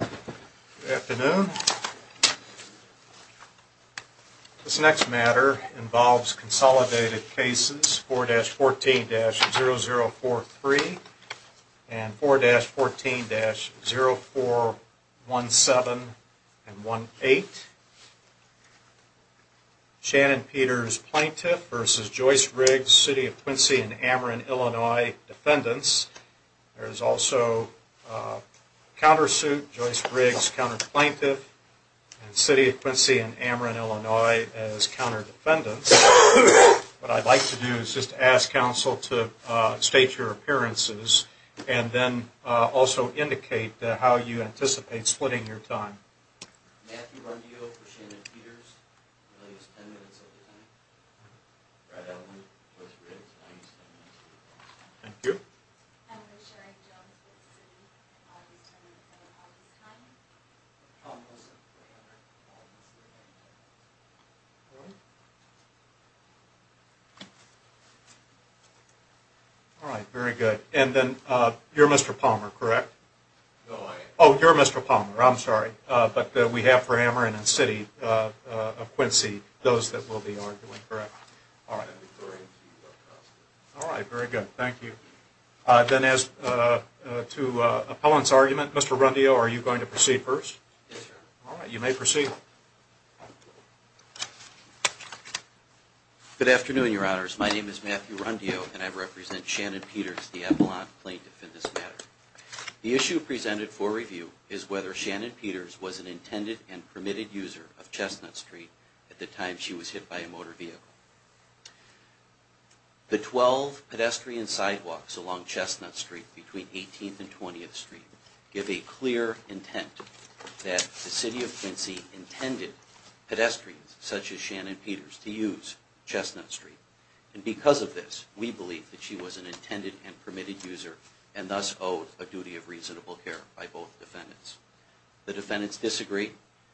Good afternoon. This next matter involves consolidated cases 4-14-0043 and 4-14-0417 and 4-14-0418. Shannon Peters, plaintiff, versus Joyce Riggs, City of Quincy and Ameren, Illinois, defendants. There is also a countersuit, Joyce Riggs, counterplaintiff, and City of Quincy and Ameren, Illinois, as counter-defendants. What I'd like to do is just ask counsel to state your appearances and then also indicate how you anticipate splitting your time. Matthew Rondio for Shannon Peters. Thank you. Alright, very good. And then you're Mr. Palmer, correct? No, I am. Oh, you're Mr. Palmer. I'm sorry. But we have for Ameren and City of Quincy those that we'll be arguing, correct? Yes, sir. Alright, very good. Thank you. Then as to appellant's argument, Mr. Rondio, are you going to proceed first? Yes, sir. Alright, you may proceed. Good afternoon, your honors. My name is Matthew Rondio and I represent Shannon Peters, the appellant plaintiff in this matter. The issue presented for review is whether Shannon Peters was an intended and permitted user of Chestnut Street at the time she was hit by a motor vehicle. The 12 pedestrian sidewalks along Chestnut Street between 18th and 20th Street give a clear intent that the City of Quincy intended pedestrians such as Shannon Peters to use Chestnut Street. And because of this, we believe that she was an intended and permitted user and thus owed a duty of reasonable care by both defendants. The defendants disagreed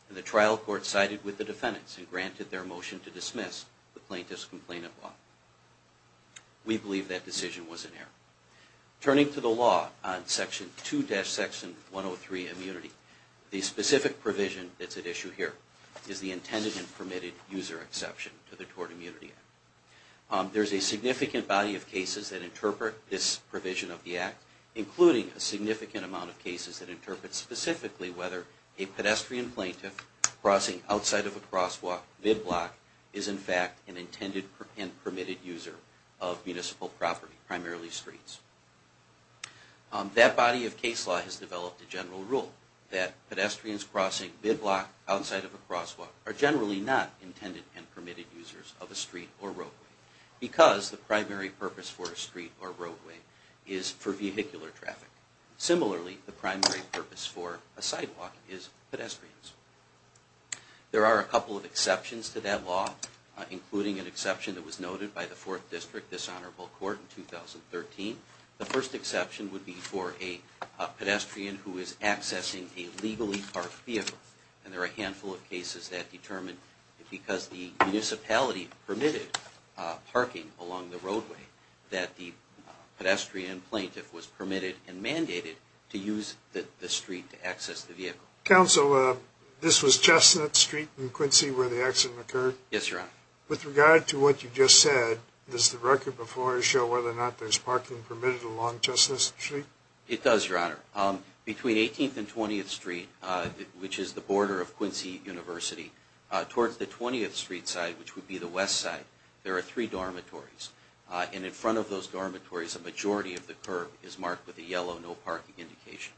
and the trial court sided with the defendants and granted their motion to dismiss the plaintiff's complainant law. We believe that decision was in error. Turning to the law on section 2-section 103 immunity, the specific provision that's at issue here is the intended and permitted user exception to the Tort Immunity Act. There's a significant body of cases that interpret this provision of the Act, including a significant amount of cases that interpret specifically whether a pedestrian plaintiff crossing outside of a crosswalk mid-block is in fact an intended and permitted user of municipal property, primarily streets. That body of case law has developed a general rule that pedestrians crossing mid-block outside of a crosswalk are generally not intended and permitted users of a street or roadway because the primary purpose for a street or roadway is for vehicular traffic. Similarly, the primary purpose for a sidewalk is pedestrians. There are a couple of exceptions to that law, including an exception that was noted by the Fourth District Dishonorable Court in 2013. The first exception would be for a pedestrian who is accessing a legally parked vehicle. And there are a handful of cases that determine that because the municipality permitted parking along the roadway, that the pedestrian plaintiff was permitted and mandated to use the street to access the vehicle. Counsel, this was Chestnut Street in Quincy where the accident occurred? Yes, Your Honor. With regard to what you just said, does the record before us show whether or not there's parking permitted along Chestnut Street? It does, Your Honor. Between 18th and 20th Street, which is the border of Quincy University, towards the 20th Street side, which would be the west side, there are three dormitories. And in front of those dormitories, a majority of the curb is marked with a yellow no parking indication.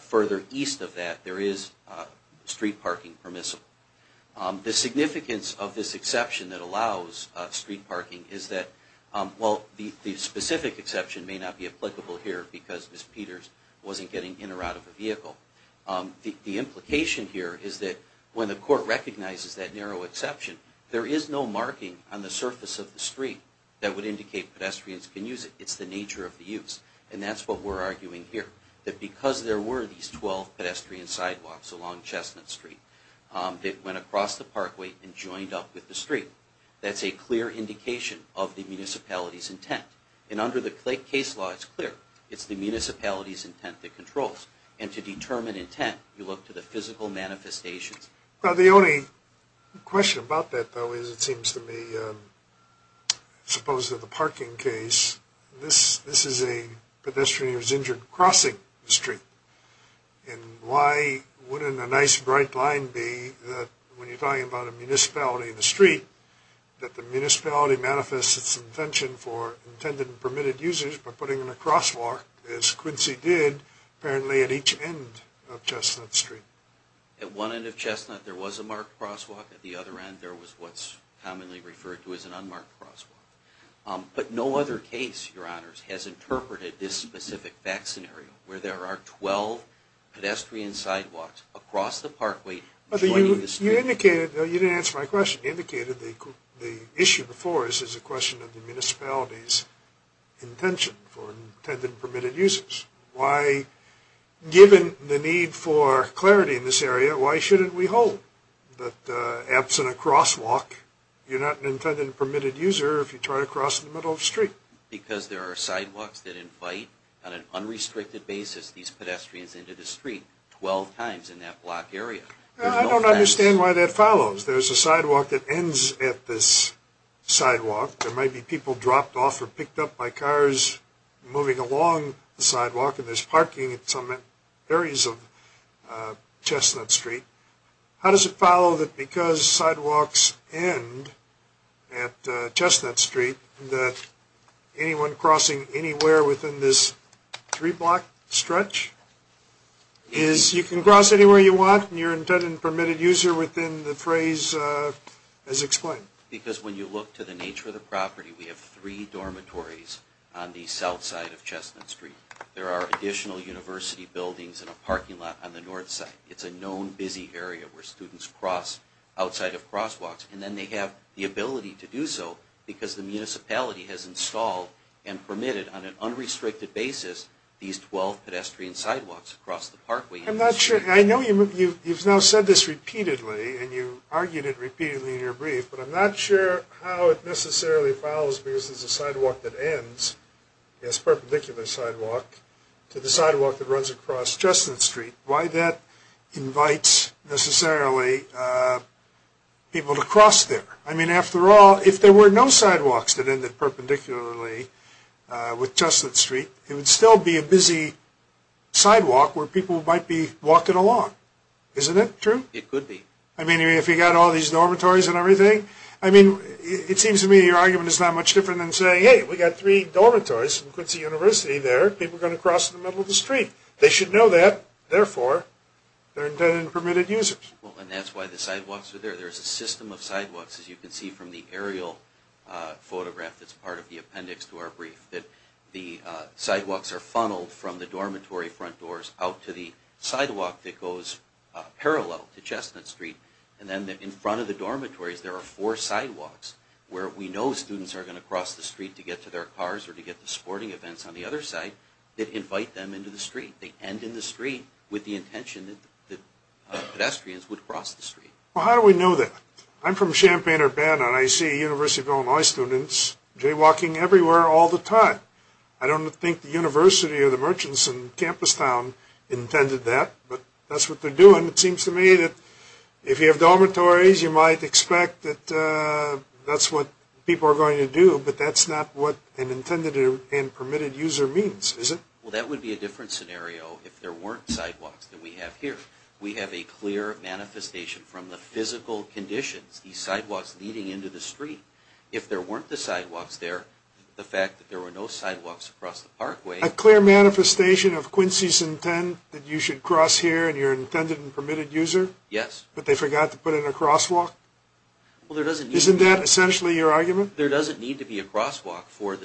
Further east of that, there is street parking permissible. The significance of this exception that allows street parking is that, well, the specific exception may not be applicable here because Ms. Peters wasn't getting in or out of the vehicle. The implication here is that when the court recognizes that narrow exception, there is no marking on the surface of the street that would indicate pedestrians can use it. It's the nature of the use. And that's what we're arguing here. That because there were these 12 pedestrian sidewalks along Chestnut Street that went across the parkway and joined up with the street, that's a clear indication of the municipality's intent. And under the case law, it's clear. It's the municipality's intent that controls. And to determine intent, you look to the physical manifestations. Well, the only question about that, though, is it seems to me, suppose that the parking case, this is a pedestrian who's injured crossing the street. And why wouldn't a nice bright line be that when you're talking about a municipality in the street, that the municipality manifests its intention for intended and permitted users by putting in a crosswalk, as Quincy did, apparently at each end of Chestnut Street? At one end of Chestnut, there was a marked crosswalk. At the other end, there was what's commonly referred to as an unmarked crosswalk. But no other case, Your Honors, has interpreted this specific fact scenario where there are 12 pedestrian sidewalks across the parkway joining the street. You indicated, though, you didn't answer my question. You indicated the issue before us is a question of the municipality's intention for intended and permitted users. Why, given the need for clarity in this area, why shouldn't we hold? But absent a crosswalk, you're not an intended and permitted user if you try to cross in the middle of the street. Because there are sidewalks that invite, on an unrestricted basis, these pedestrians into the street 12 times in that block area. I don't understand why that follows. There's a sidewalk that ends at this sidewalk. There might be people dropped off or picked up by cars moving along the sidewalk. And there's parking at some areas of Chestnut Street. How does it follow that because sidewalks end at Chestnut Street, that anyone crossing anywhere within this three-block stretch, is you can cross anywhere you want and you're an intended and permitted user within the phrase as explained? Because when you look to the nature of the property, we have three dormitories on the south side of Chestnut Street. There are additional university buildings and a parking lot on the north side. It's a known busy area where students cross outside of crosswalks. And then they have the ability to do so because the municipality has installed and permitted, on an unrestricted basis, these 12 pedestrian sidewalks across the parkway. I'm not sure. I know you've now said this repeatedly and you argued it repeatedly in your brief, but I'm not sure how it necessarily follows because there's a sidewalk that ends, this perpendicular sidewalk, to the sidewalk that runs across Chestnut Street. Why that invites necessarily people to cross there? I mean, after all, if there were no sidewalks that ended perpendicularly with Chestnut Street, it would still be a busy sidewalk where people might be walking along. Isn't that true? It could be. I mean, if you've got all these dormitories and everything? I mean, it seems to me your argument is not much different than saying, hey, we've got three dormitories and a university there. People are going to cross in the middle of the street. They should know that. Therefore, they're intended and permitted users. Well, and that's why the sidewalks are there. There's a system of sidewalks, as you can see from the aerial photograph that's part of the appendix to our brief, that the sidewalks are funneled from the dormitory front doors out to the sidewalk that goes parallel to Chestnut Street. And then in front of the dormitories there are four sidewalks where we know students are going to cross the street to get to their cars or to get to sporting events on the other side that invite them into the street. They end in the street with the intention that pedestrians would cross the street. Well, how do we know that? I'm from Champaign-Urbana, and I see University of Illinois students jaywalking everywhere all the time. I don't think the university or the merchants in Campus Town intended that, but that's what they're doing. It seems to me that if you have dormitories, you might expect that that's what people are going to do, but that's not what an intended and permitted user means, is it? Well, that would be a different scenario if there weren't sidewalks that we have here. We have a clear manifestation from the physical conditions, these sidewalks leading into the street. If there weren't the sidewalks there, the fact that there were no sidewalks across the parkway... A clear manifestation of Quincy's intent that you should cross here and you're an intended and permitted user? Yes. But they forgot to put in a crosswalk? Well, there doesn't need... Isn't that essentially your argument? There doesn't need to be a crosswalk for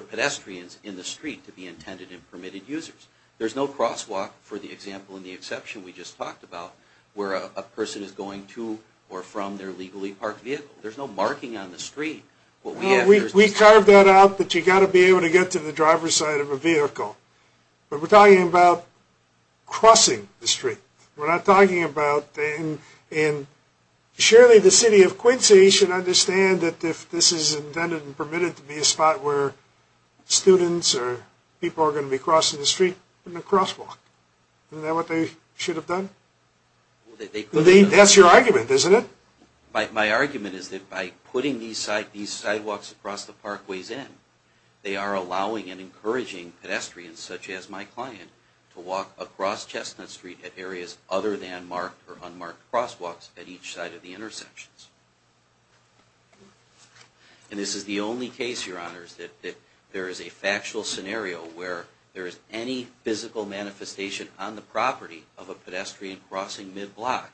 pedestrians in the street to be intended and permitted users. There's no crosswalk, for the example and the exception we just talked about, where a person is going to or from their legally parked vehicle. There's no marking on the street. Well, we carved that out that you've got to be able to get to the driver's side of a vehicle. But we're talking about crossing the street. We're not talking about... Surely the city of Quincy should understand that if this is intended and permitted to be a spot where students or people are going to be crossing the street, put in a crosswalk. Isn't that what they should have done? That's your argument, isn't it? My argument is that by putting these sidewalks across the parkways in, they are allowing and encouraging pedestrians, such as my client, to walk across Chestnut Street at areas other than marked or unmarked crosswalks at each side of the intersections. And this is the only case, Your Honors, that there is a factual scenario where there is any physical manifestation on the property of a pedestrian crossing mid-block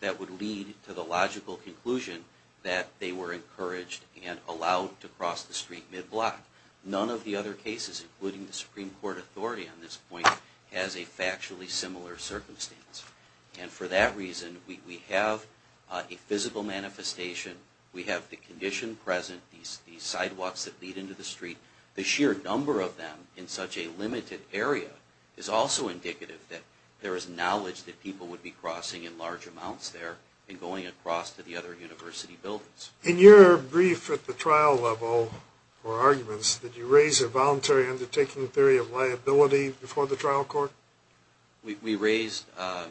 that would lead to the logical conclusion that they were encouraged and allowed to cross the street mid-block. None of the other cases, including the Supreme Court authority on this point, has a factually similar circumstance. And for that reason, we have a physical manifestation. We have the condition present, these sidewalks that lead into the street. The sheer number of them in such a limited area is also indicative that there is knowledge that people would be crossing in large amounts there and going across to the other university buildings. In your brief at the trial level for arguments, did you raise a voluntary undertaking theory of liability before the trial court? We raised a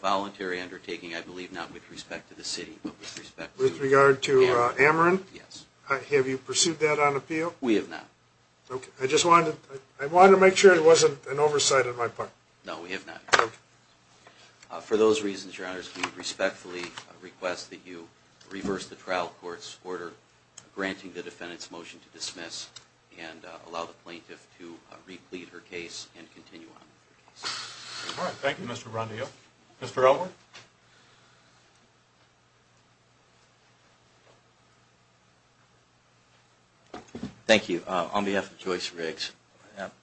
voluntary undertaking, I believe not with respect to the city, but with respect to... With regard to Ameren? Yes. Have you pursued that on appeal? We have not. Okay. I just wanted to make sure it wasn't an oversight on my part. No, we have not. Okay. For those reasons, Your Honors, we respectfully request that you reverse the trial court's order granting the defendant's motion to dismiss and allow the plaintiff to replete her case and continue on with her case. All right. Thank you, Mr. Rondillo. Mr. Elwood? Thank you. On behalf of Joyce Riggs,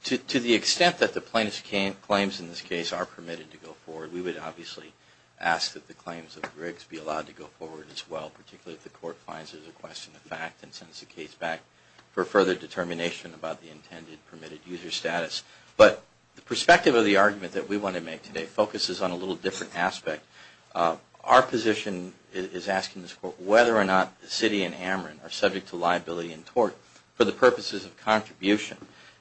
to the extent that the plaintiff's claims in this case are permitted to go forward, we would obviously ask that the claims of Riggs be allowed to go forward as well, particularly if the court finds it a question of fact and sends the case back for further determination about the intended permitted user status. But the perspective of the argument that we want to make today focuses on a little different aspect. Our position is asking this court whether or not the city and Ameren are subject to liability and tort for the purposes of contribution.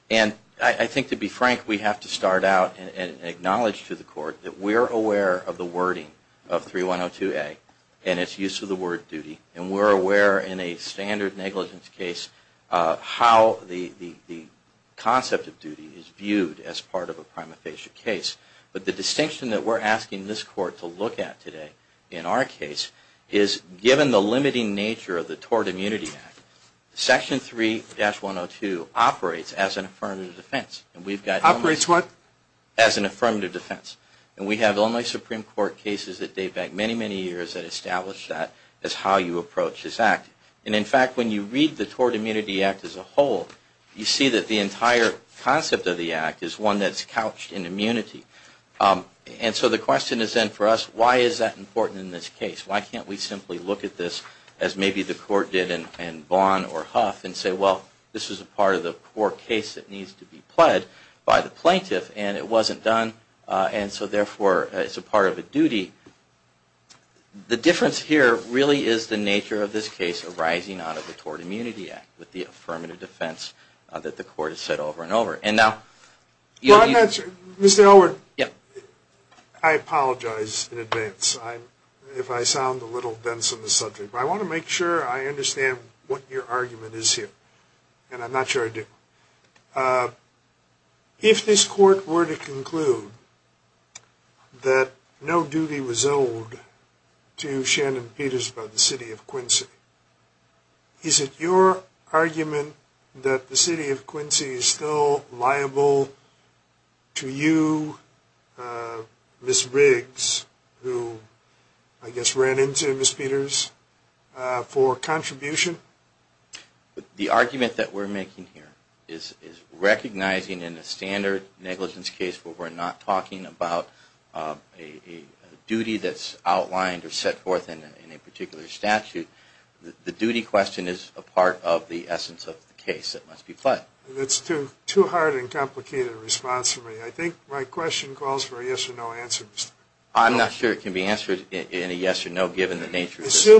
And I think, to be frank, we have to start out and acknowledge to the court that we are aware of the wording of 3102A and its use of the word duty. And we're aware in a standard negligence case how the concept of duty is viewed as part of a prima facie case. But the distinction that we're asking this court to look at today in our case is, given the limiting nature of the Tort Immunity Act, Section 3-102 operates as an affirmative defense. Operates what? As an affirmative defense. And we have Illinois Supreme Court cases that date back many, many years that establish that as how you approach this act. And, in fact, when you read the Tort Immunity Act as a whole, you see that the entire concept of the act is one that's couched in immunity. And so the question is then for us, why is that important in this case? Why can't we simply look at this as maybe the court did in Vaughn or Huff and say, well, this is a part of the court case that needs to be pled by the plaintiff and it wasn't done and so therefore it's a part of a duty. The difference here really is the nature of this case arising out of the Tort Immunity Act with the affirmative defense that the court has said over and over. Mr. Elwood, I apologize in advance if I sound a little dense on this subject, but I want to make sure I understand what your argument is here. And I'm not sure I do. If this court were to conclude that no duty was owed to Shannon Peters by the city of Quincy, is it your argument that the city of Quincy is still liable to you, Ms. Riggs, who I guess ran into Ms. Peters, for contribution? The argument that we're making here is recognizing in a standard negligence case where we're not talking about a duty that's outlined or set forth in a particular statute, the duty question is a part of the essence of the case that must be pled. That's too hard and complicated a response from me. I think my question calls for a yes or no answer, Mr. Elwood. I'm not sure it can be answered in a yes or no given the nature of this case.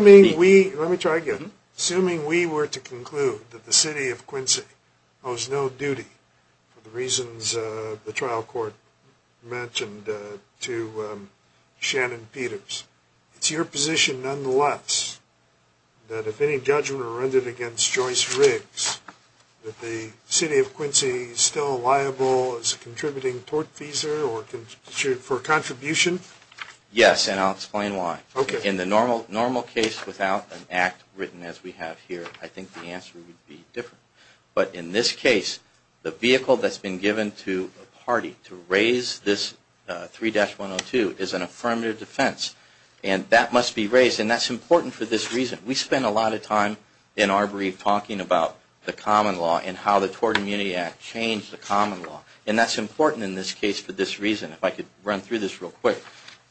Let me try again. Assuming we were to conclude that the city of Quincy owes no duty for the reasons the trial court mentioned to Shannon Peters, it's your position nonetheless that if any judgment were rendered against Joyce Riggs that the city of Quincy is still liable as a contributing tortfeasor for contribution? Yes, and I'll explain why. In the normal case without an act written as we have here, I think the answer would be different. But in this case, the vehicle that's been given to a party to raise this 3-102 is an affirmative defense, and that must be raised, and that's important for this reason. We spend a lot of time in our brief talking about the common law and how the Tort Immunity Act changed the common law, and that's important in this case for this reason. If I could run through this real quick.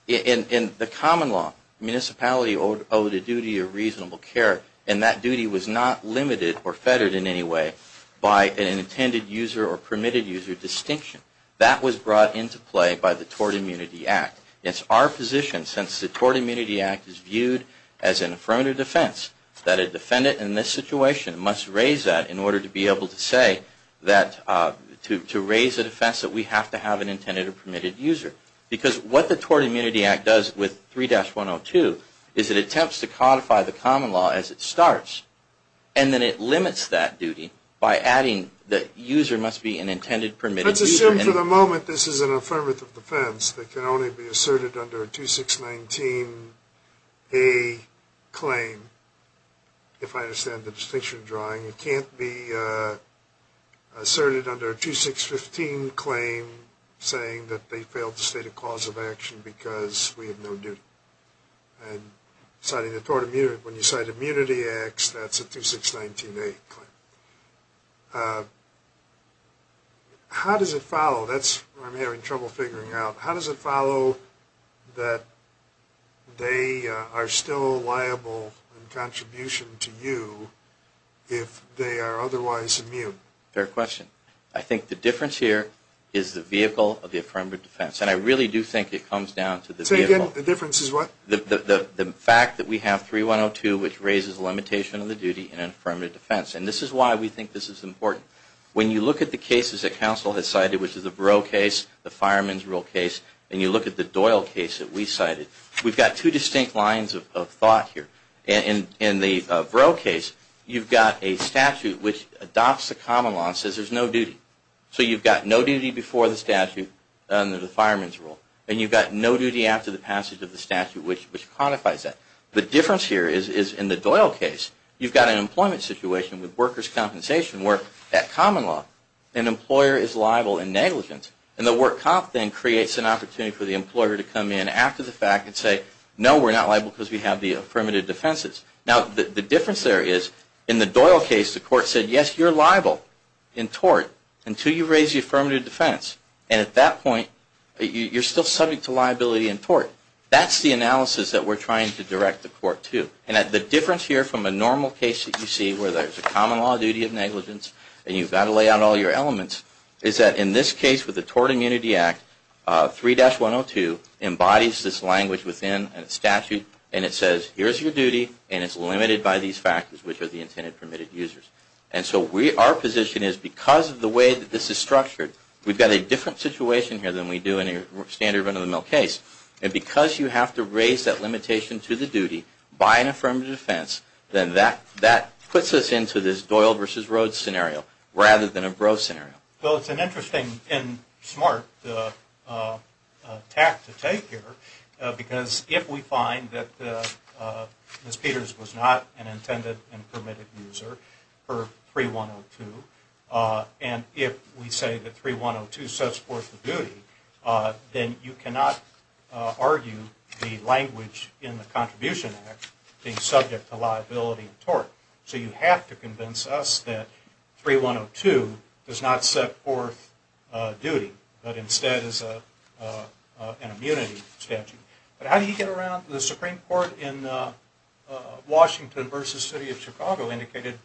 In the common law, municipality owed a duty of reasonable care, and that duty was not limited or fettered in any way by an intended user or permitted user distinction. That was brought into play by the Tort Immunity Act. It's our position, since the Tort Immunity Act is viewed as an affirmative defense, that a defendant in this situation must raise that in order to be able to say that to raise a defense that we have to have an intended or permitted user. Because what the Tort Immunity Act does with 3-102 is it attempts to codify the common law as it starts, and then it limits that duty by adding that user must be an intended permitted user. Let's assume for the moment this is an affirmative defense that can only be asserted under a 2619A claim, if I understand the distinction drawing. It can't be asserted under a 2615 claim saying that they failed to state a cause of action because we have no duty. And when you cite Immunity Act, that's a 2619A claim. How does it follow? That's where I'm having trouble figuring out. How does it follow that they are still liable in contribution to you if they are otherwise immune? Fair question. I think the difference here is the vehicle of the affirmative defense. And I really do think it comes down to the vehicle. Say again, the difference is what? The fact that we have 3-102, which raises the limitation of the duty in an affirmative defense. And this is why we think this is important. When you look at the cases that counsel has cited, which is the Brough case, the Fireman's Rule case, and you look at the Doyle case that we cited, we've got two distinct lines of thought here. In the Brough case, you've got a statute which adopts the common law and says there's no duty. So you've got no duty before the statute under the Fireman's Rule. And you've got no duty after the passage of the statute, which quantifies that. The difference here is in the Doyle case, you've got an employment situation with workers' compensation where that common law, an employer is liable in negligence. And the work comp thing creates an opportunity for the employer to come in after the fact and say, no, we're not liable because we have the affirmative defenses. Now, the difference there is in the Doyle case, the court said, yes, you're liable in tort until you raise the affirmative defense. That's the analysis that we're trying to direct the court to. And the difference here from a normal case that you see where there's a common law duty of negligence, and you've got to lay out all your elements, is that in this case with the Tort Immunity Act, 3-102 embodies this language within a statute. And it says here's your duty, and it's limited by these factors, which are the intended permitted users. And so our position is because of the way that this is structured, we've got a different situation here than we do in a standard run-of-the-mill case. And because you have to raise that limitation to the duty by an affirmative defense, then that puts us into this Doyle versus Rhoades scenario rather than a Rhoades scenario. Well, it's an interesting and smart tact to take here because if we find that Ms. Peters was not an intended and permitted user for 3-102, and if we say that 3-102 sets forth the duty, then you cannot argue the language in the Contribution Act being subject to liability of tort. So you have to convince us that 3-102 does not set forth duty, but instead is an immunity statute. But how do you get around the Supreme Court in Washington versus City of Chicago indicated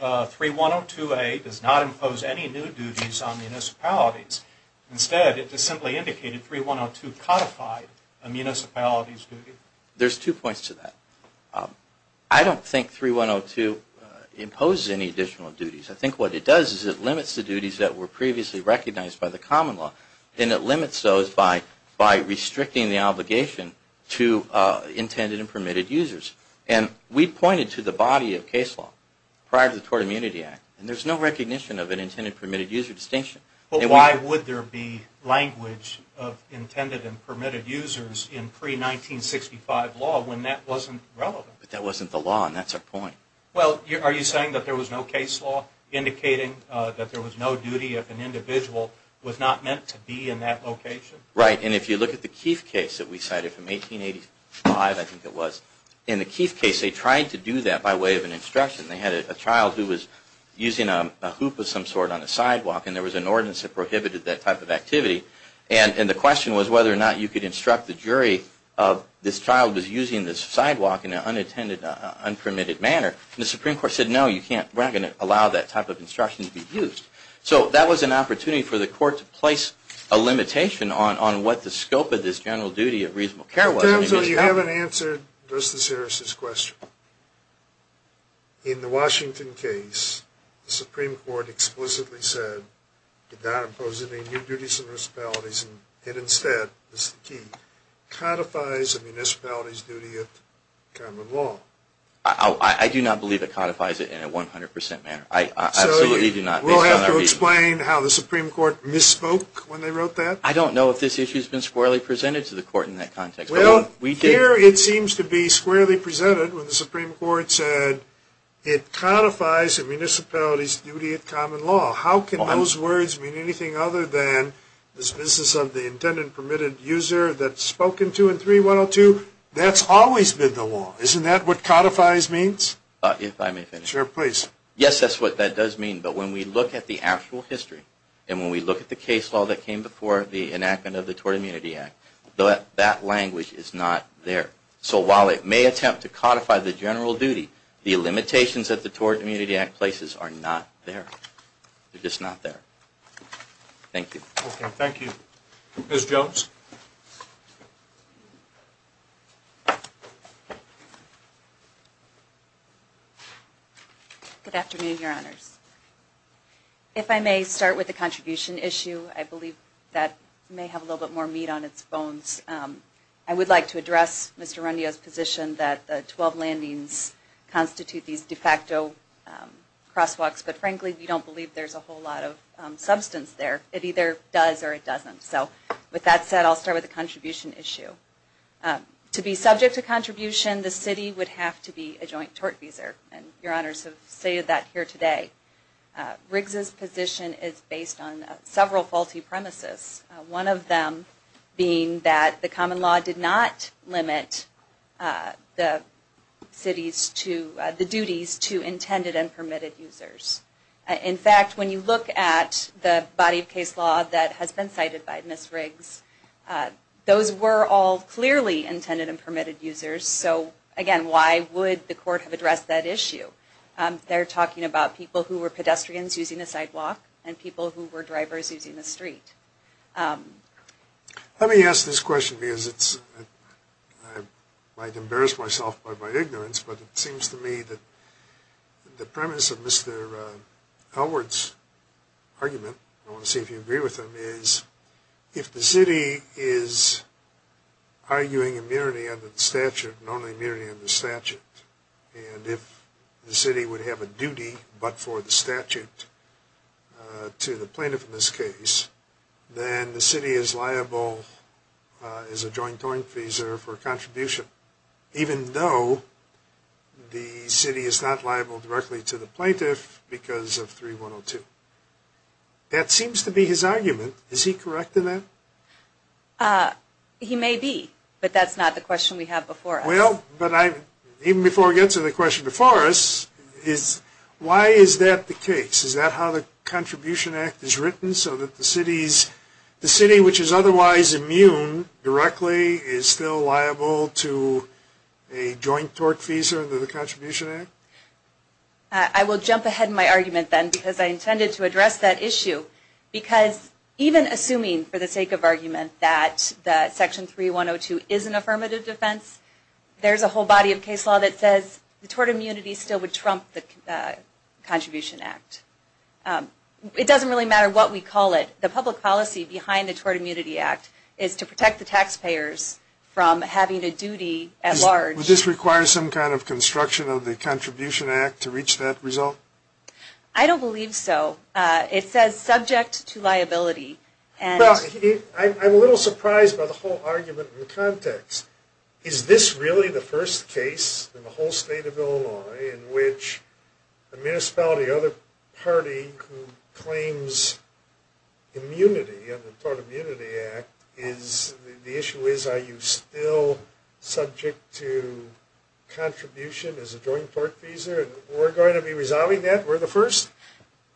3-102A does not impose any new duties on municipalities. Instead, it just simply indicated 3-102 codified a municipality's duty. There's two points to that. I don't think 3-102 imposes any additional duties. I think what it does is it limits the duties that were previously recognized by the common law, and it limits those by restricting the obligation to intended and permitted users. And we pointed to the body of case law prior to the Tort Immunity Act, and there's no recognition of an intended and permitted user distinction. Why would there be language of intended and permitted users in pre-1965 law when that wasn't relevant? But that wasn't the law, and that's our point. Well, are you saying that there was no case law indicating that there was no duty if an individual was not meant to be in that location? Right. And if you look at the Keith case that we cited from 1885, I think it was, in the Keith case they tried to do that by way of an instruction. They had a child who was using a hoop of some sort on a sidewalk, and there was an ordinance that prohibited that type of activity. And the question was whether or not you could instruct the jury if this child was using this sidewalk in an unintended, unpermitted manner. And the Supreme Court said, no, we're not going to allow that type of instruction to be used. So that was an opportunity for the court to place a limitation on what the scope of this general duty of reasonable care was. So you haven't answered Justice Harris's question. In the Washington case, the Supreme Court explicitly said, did not impose any new duties and municipalities, and it instead, Mr. Keith, codifies a municipality's duty of common law. I do not believe it codifies it in a 100% manner. I absolutely do not. So we'll have to explain how the Supreme Court misspoke when they wrote that? I don't know if this issue has been squarely presented to the court in that context. Well, here it seems to be squarely presented when the Supreme Court said, it codifies a municipality's duty of common law. How can those words mean anything other than this business of the intended, permitted user that's spoken to in 3.102? That's always been the law. Isn't that what codifies means? If I may finish. Yes, that's what that does mean. But when we look at the actual history, and when we look at the case law that came before the enactment of the Tort Immunity Act, that language is not there. So while it may attempt to codify the general duty, the limitations that the Tort Immunity Act places are not there. They're just not there. Thank you. Thank you. Ms. Jones? Good afternoon, Your Honors. If I may start with the contribution issue, I believe that may have a little bit more meat on its bones. I would like to address Mr. Rundio's position that the 12 landings constitute these de facto crosswalks, but, frankly, we don't believe there's a whole lot of substance there. It either does or it doesn't. So with that said, I'll start with the contribution issue. To be subject to contribution, the city would have to be a joint tort visa, and Your Honors have stated that here today. Riggs's position is based on several faulty premises, one of them being that the common law did not limit the duties to intended and permitted users. In fact, when you look at the body of case law that has been cited by Ms. Riggs, those were all clearly intended and permitted users. So, again, why would the court have addressed that issue? They're talking about people who were pedestrians using the sidewalk and people who were drivers using the street. Let me ask this question because I might embarrass myself by my ignorance, but it seems to me that the premise of Mr. Elwood's argument, I want to see if you agree with him, is if the city is arguing immunity under the statute and only immunity under the statute, and if the city would have a duty but for the statute to the plaintiff in this case, then the city is liable as a joint tort visa for a contribution, even though the city is not liable directly to the plaintiff because of 3102. That seems to be his argument. Is he correct in that? He may be, but that's not the question we have before us. Even before I get to the question before us, why is that the case? Is that how the Contribution Act is written, so that the city, which is otherwise immune directly, is still liable to a joint tort visa under the Contribution Act? I will jump ahead in my argument then because I intended to address that issue because even assuming for the sake of argument that Section 3102 is an affirmative defense, there's a whole body of case law that says the tort immunity still would trump the Contribution Act. It doesn't really matter what we call it. The public policy behind the Tort Immunity Act is to protect the taxpayers from having a duty at large. Would this require some kind of construction of the Contribution Act to reach that result? I don't believe so. It says subject to liability. I'm a little surprised by the whole argument in the context. Is this really the first case in the whole state of Illinois in which the municipality or the party who claims immunity under the Tort Immunity Act, the issue is are you still subject to contribution as a joint tort visa? We're going to be resolving that? We're the first?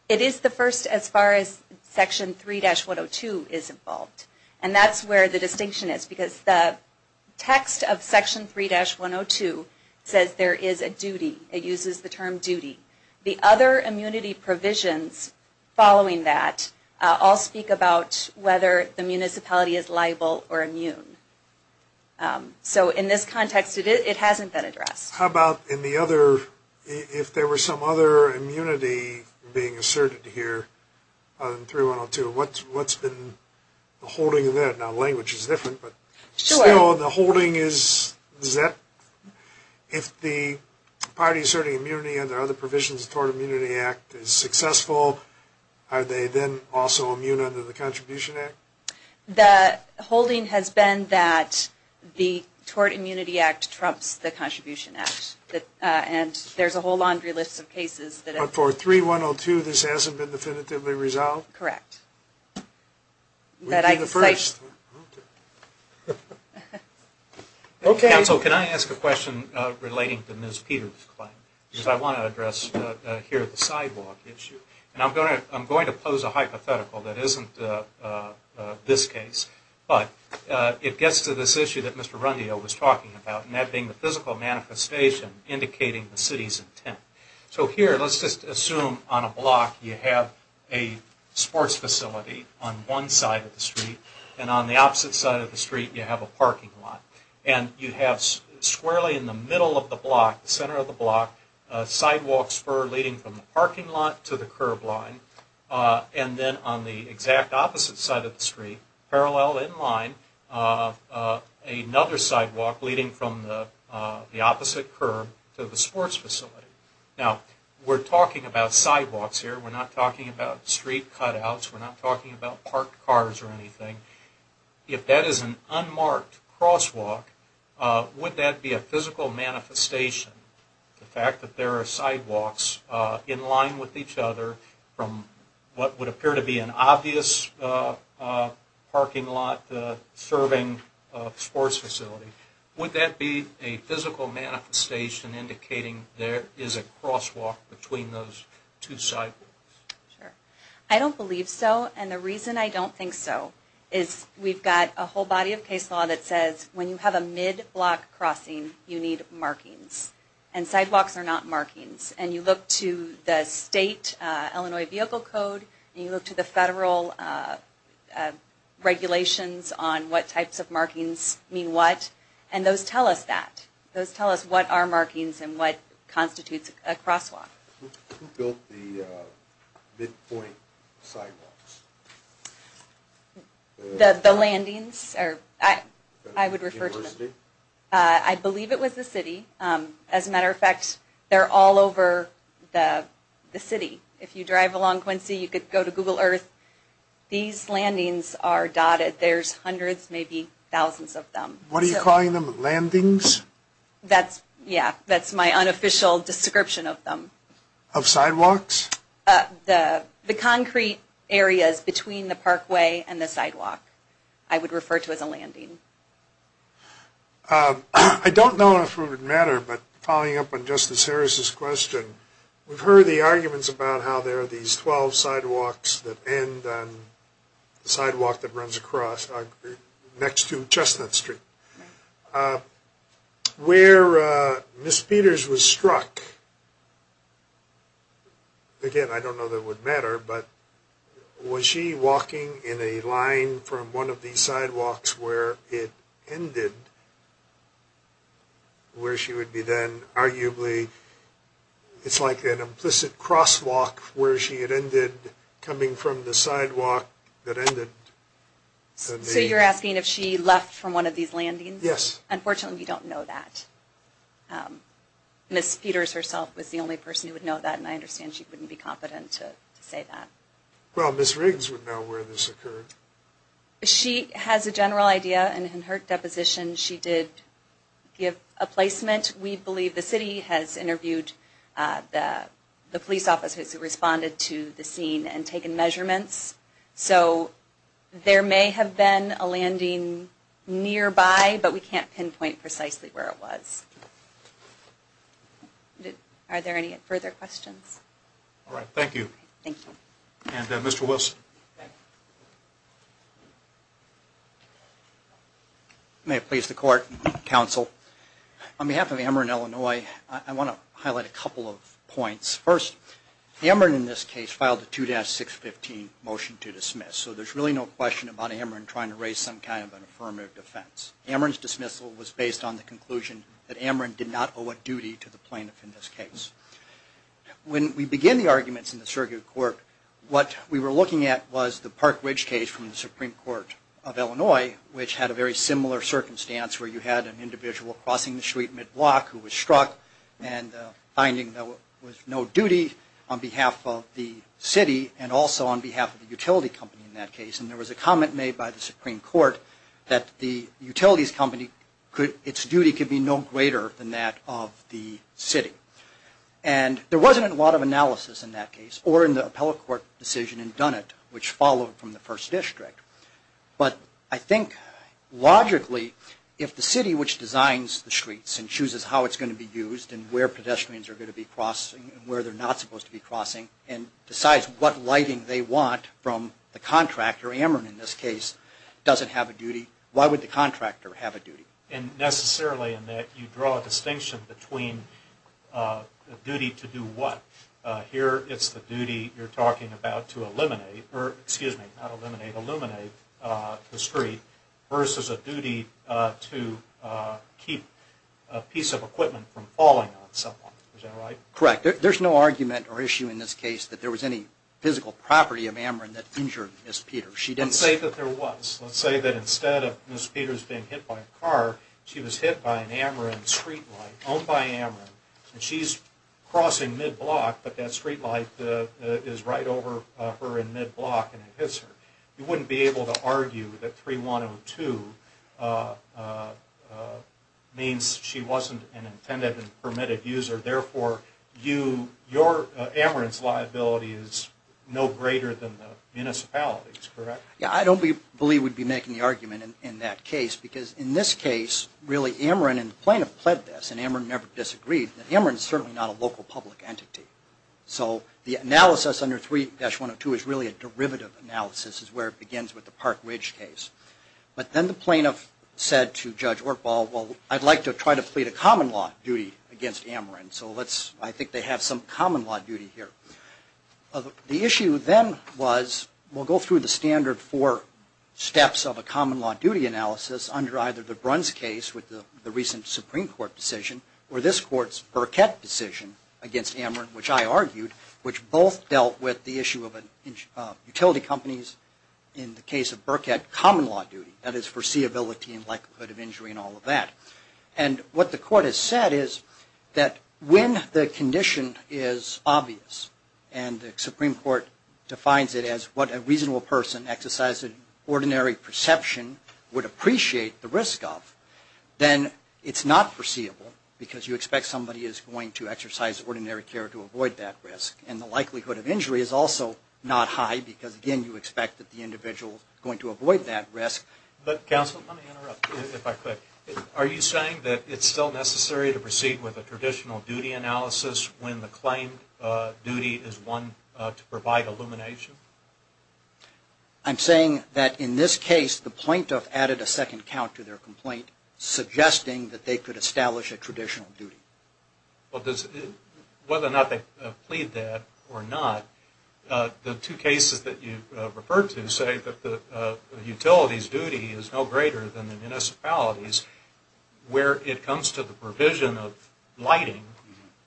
It is the first as far as Section 3-102 is involved. That's where the distinction is because the text of Section 3-102 says there is a duty. It uses the term duty. The other immunity provisions following that all speak about whether the municipality is liable or immune. So in this context it hasn't been addressed. How about in the other, if there were some other immunity being asserted here other than 3-102, what's been the holding of that? Now language is different, but still the holding is that if the party asserting immunity under other provisions of the Tort Immunity Act is successful, are they then also immune under the Contribution Act? The holding has been that the Tort Immunity Act trumps the Contribution Act. And there's a whole laundry list of cases. But for 3-102 this hasn't been definitively resolved? Correct. We're doing the first. Counsel, can I ask a question relating to Ms. Peter's claim? Because I want to address here the sidewalk issue. And I'm going to pose a hypothetical that isn't this case. But it gets to this issue that Mr. Rundio was talking about, and that being the physical manifestation indicating the city's intent. So here, let's just assume on a block you have a sports facility on one side of the street, and on the opposite side of the street you have a parking lot. And you have squarely in the middle of the block, the center of the block, a sidewalk spur leading from the parking lot to the curb line. And then on the exact opposite side of the street, parallel in line, another sidewalk leading from the opposite curb to the sports facility. Now, we're talking about sidewalks here. We're not talking about street cutouts. We're not talking about parked cars or anything. If that is an unmarked crosswalk, would that be a physical manifestation? The fact that there are sidewalks in line with each other, from what would appear to be an obvious parking lot serving a sports facility, would that be a physical manifestation indicating there is a crosswalk between those two sidewalks? Sure. I don't believe so. And the reason I don't think so is we've got a whole body of case law that says when you have a mid-block crossing, you need markings. And sidewalks are not markings. And you look to the state Illinois Vehicle Code, and you look to the federal regulations on what types of markings mean what, and those tell us that. Those tell us what are markings and what constitutes a crosswalk. Who built the midpoint sidewalks? The landings? I would refer to them. University? I believe it was the city. As a matter of fact, they're all over the city. If you drive along Quincy, you could go to Google Earth. These landings are dotted. There's hundreds, maybe thousands of them. What are you calling them? Landings? Yeah. That's my unofficial description of them. Of sidewalks? The concrete areas between the parkway and the sidewalk I would refer to as a landing. I don't know if it would matter, but following up on Justice Harris' question, we've heard the arguments about how there are these 12 sidewalks that end on the sidewalk that runs across next to Chestnut Street. Where Ms. Peters was struck, again, I don't know that it would matter, but was she walking in a line from one of these sidewalks where it ended, where she would be then arguably, it's like an implicit crosswalk, where she had ended coming from the sidewalk that ended. So you're asking if she left from one of these landings? Yes. Unfortunately, we don't know that. Ms. Peters herself was the only person who would know that, and I understand she wouldn't be competent to say that. Well, Ms. Riggs would know where this occurred. She has a general idea, and in her deposition she did give a placement. We believe the city has interviewed the police officers who responded to the scene and taken measurements. So there may have been a landing nearby, but we can't pinpoint precisely where it was. Are there any further questions? All right. Thank you. Thank you. And Mr. Wilson. May it please the Court, Counsel. On behalf of Emrin, Illinois, I want to highlight a couple of points. First, Emrin in this case filed a 2-615 motion to dismiss, so there's really no question about Emrin trying to raise some kind of an affirmative defense. Emrin's dismissal was based on the conclusion that Emrin did not owe a duty to the plaintiff in this case. When we begin the arguments in the circuit court, what we were looking at was the Park Ridge case from the Supreme Court of Illinois, which had a very similar circumstance where you had an individual crossing the street mid-block who was struck and finding there was no duty on behalf of the city and also on behalf of the utility company in that case. And there was a comment made by the Supreme Court that the utilities company, its duty could be no greater than that of the city. And there wasn't a lot of analysis in that case or in the appellate court decision in Dunnett, which followed from the first district. But I think logically, if the city, which designs the streets and chooses how it's going to be used and where pedestrians are going to be crossing and where they're not supposed to be crossing and decides what lighting they want from the contractor, Emrin in this case, doesn't have a duty, why would the contractor have a duty? And necessarily in that you draw a distinction between a duty to do what? Here it's the duty you're talking about to eliminate, or excuse me, not eliminate, illuminate the street versus a duty to keep a piece of equipment from falling on someone. Is that right? Correct. There's no argument or issue in this case that there was any physical property of Emrin that injured Ms. Peters. Let's say that there was. Let's say that instead of Ms. Peters being hit by a car, she was hit by an Emrin streetlight owned by Emrin. And she's crossing mid-block, but that streetlight is right over her in mid-block and it hits her. You wouldn't be able to argue that 3102 means she wasn't an intended and permitted user. Therefore your Emrin's liability is no greater than the municipality's, correct? Yeah, I don't believe we'd be making the argument in that case, because in this case really Emrin and the plaintiff pled this, and Emrin never disagreed, that Emrin is certainly not a local public entity. So the analysis under 3-102 is really a derivative analysis. It's where it begins with the Park Ridge case. But then the plaintiff said to Judge Ortbaugh, well I'd like to try to plead a common law duty against Emrin, so I think they have some common law duty here. The issue then was, we'll go through the standard four steps of a common law duty analysis under either the Bruns case with the recent Supreme Court decision, or this Court's Burkett decision against Emrin, which I argued, which both dealt with the issue of utility companies, in the case of Burkett, common law duty, that is foreseeability and likelihood of injury and all of that. And what the Court has said is that when the condition is obvious, and the Supreme Court defines it as what a reasonable person exercising ordinary perception would appreciate the risk of, then it's not foreseeable, because you expect somebody is going to exercise ordinary care to avoid that risk. And the likelihood of injury is also not high, because again you expect that the individual is going to avoid that risk. But counsel, let me interrupt you if I could. Are you saying that it's still necessary to proceed with a traditional duty analysis when the claimed duty is one to provide illumination? I'm saying that in this case, the plaintiff added a second count to their complaint, suggesting that they could establish a traditional duty. Well, whether or not they plead that or not, the two cases that you've referred to say that the utility's duty is no greater than the municipality's. Where it comes to the provision of lighting,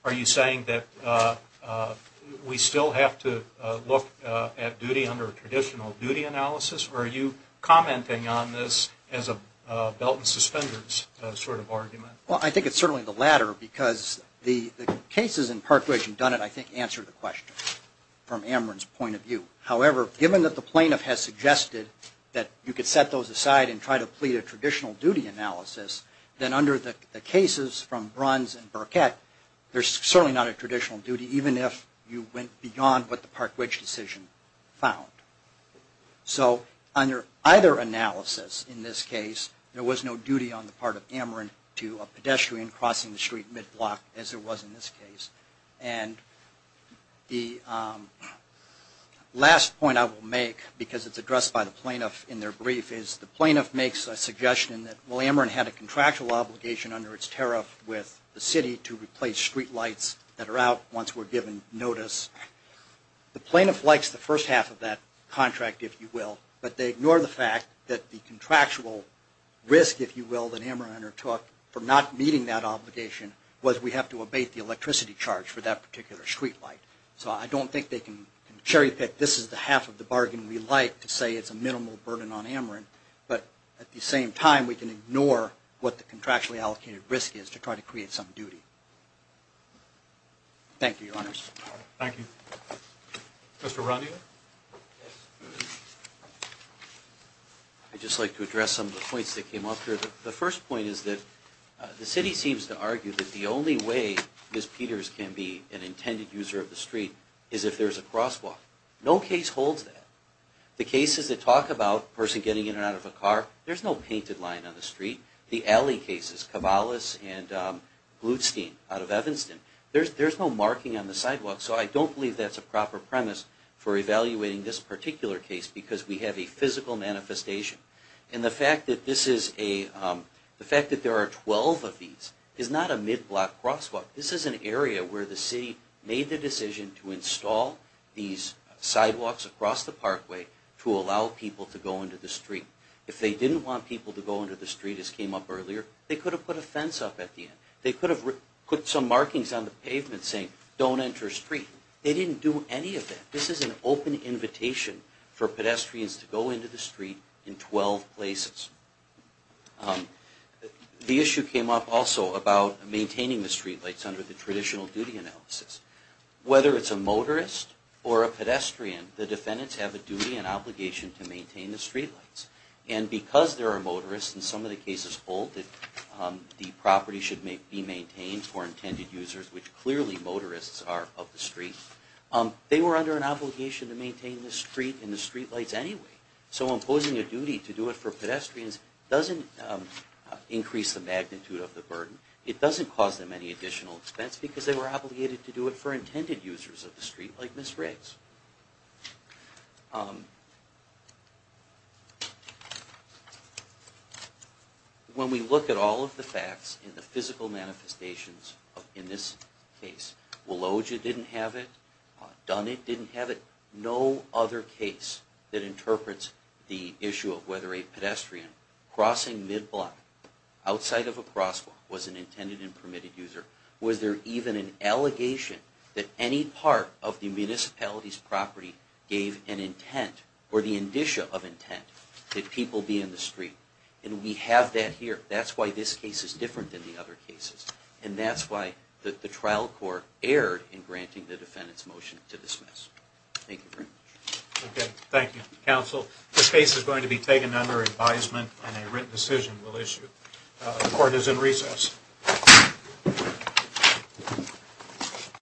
are you saying that we still have to look at duty under a traditional duty analysis, or are you commenting on this as a belt and suspenders sort of argument? Well, I think it's certainly the latter, because the cases in Park Ridge and Dunnett I think answer the question from Ameren's point of view. However, given that the plaintiff has suggested that you could set those aside and try to plead a traditional duty analysis, then under the cases from Bruns and Burkett, there's certainly not a traditional duty, even if you went beyond what the Park Ridge decision found. So under either analysis in this case, there was no duty on the part of Ameren to a pedestrian crossing the street mid-block, as there was in this case. And the last point I will make, because it's addressed by the plaintiff in their brief, is the plaintiff makes a suggestion that, well, Ameren had a contractual obligation under its tariff with the city to replace street lights that are out once we're given notice. The plaintiff likes the first half of that contract, if you will, but they ignore the fact that the contractual risk, if you will, that Ameren undertook for not meeting that obligation was we have to abate the electricity charge for that particular street light. So I don't think they can cherry-pick this is the half of the bargain we like to say it's a minimal burden on Ameren, but at the same time we can ignore what the contractually allocated risk is to try to create some duty. Thank you, Your Honors. Thank you. Mr. Rodney? I'd just like to address some of the points that came up here. The first point is that the city seems to argue that the only way Ms. Peters can be an intended user of the street is if there's a crosswalk. No case holds that. The cases that talk about a person getting in and out of a car, there's no painted line on the street. The alley cases, Cavallis and Blutstein out of Evanston, there's no marking on the sidewalk. So I don't believe that's a proper premise for evaluating this particular case because we have a physical manifestation. And the fact that there are 12 of these is not a mid-block crosswalk. This is an area where the city made the decision to install these sidewalks across the parkway to allow people to go into the street. If they didn't want people to go into the street, as came up earlier, they could have put a fence up at the end. They could have put some markings on the pavement saying, don't enter street. They didn't do any of that. This is an open invitation for pedestrians to go into the street in 12 places. The issue came up also about maintaining the streetlights under the traditional duty analysis. Whether it's a motorist or a pedestrian, the defendants have a duty and obligation to maintain the streetlights. And because there are motorists, in some of the cases, the property should be maintained for intended users, which clearly motorists are of the street. They were under an obligation to maintain the street and the streetlights anyway. So imposing a duty to do it for pedestrians doesn't increase the magnitude of the burden. It doesn't cause them any additional expense because they were obligated to do it for intended users of the street, like Ms. Riggs. When we look at all of the facts and the physical manifestations in this case, Willogia didn't have it. Dunnit didn't have it. No other case that interprets the issue of whether a pedestrian crossing midblock outside of a crosswalk was an intended and permitted user. Was there even an allegation that any part of the municipality's property gave an intent or the indicia of intent that people be in the street? And we have that here. That's why this case is different than the other cases. And that's why the trial court erred in granting the defendant's motion to dismiss. Thank you. Okay. Thank you, counsel. This case is going to be taken under advisement and a written decision will issue. The court is in recess.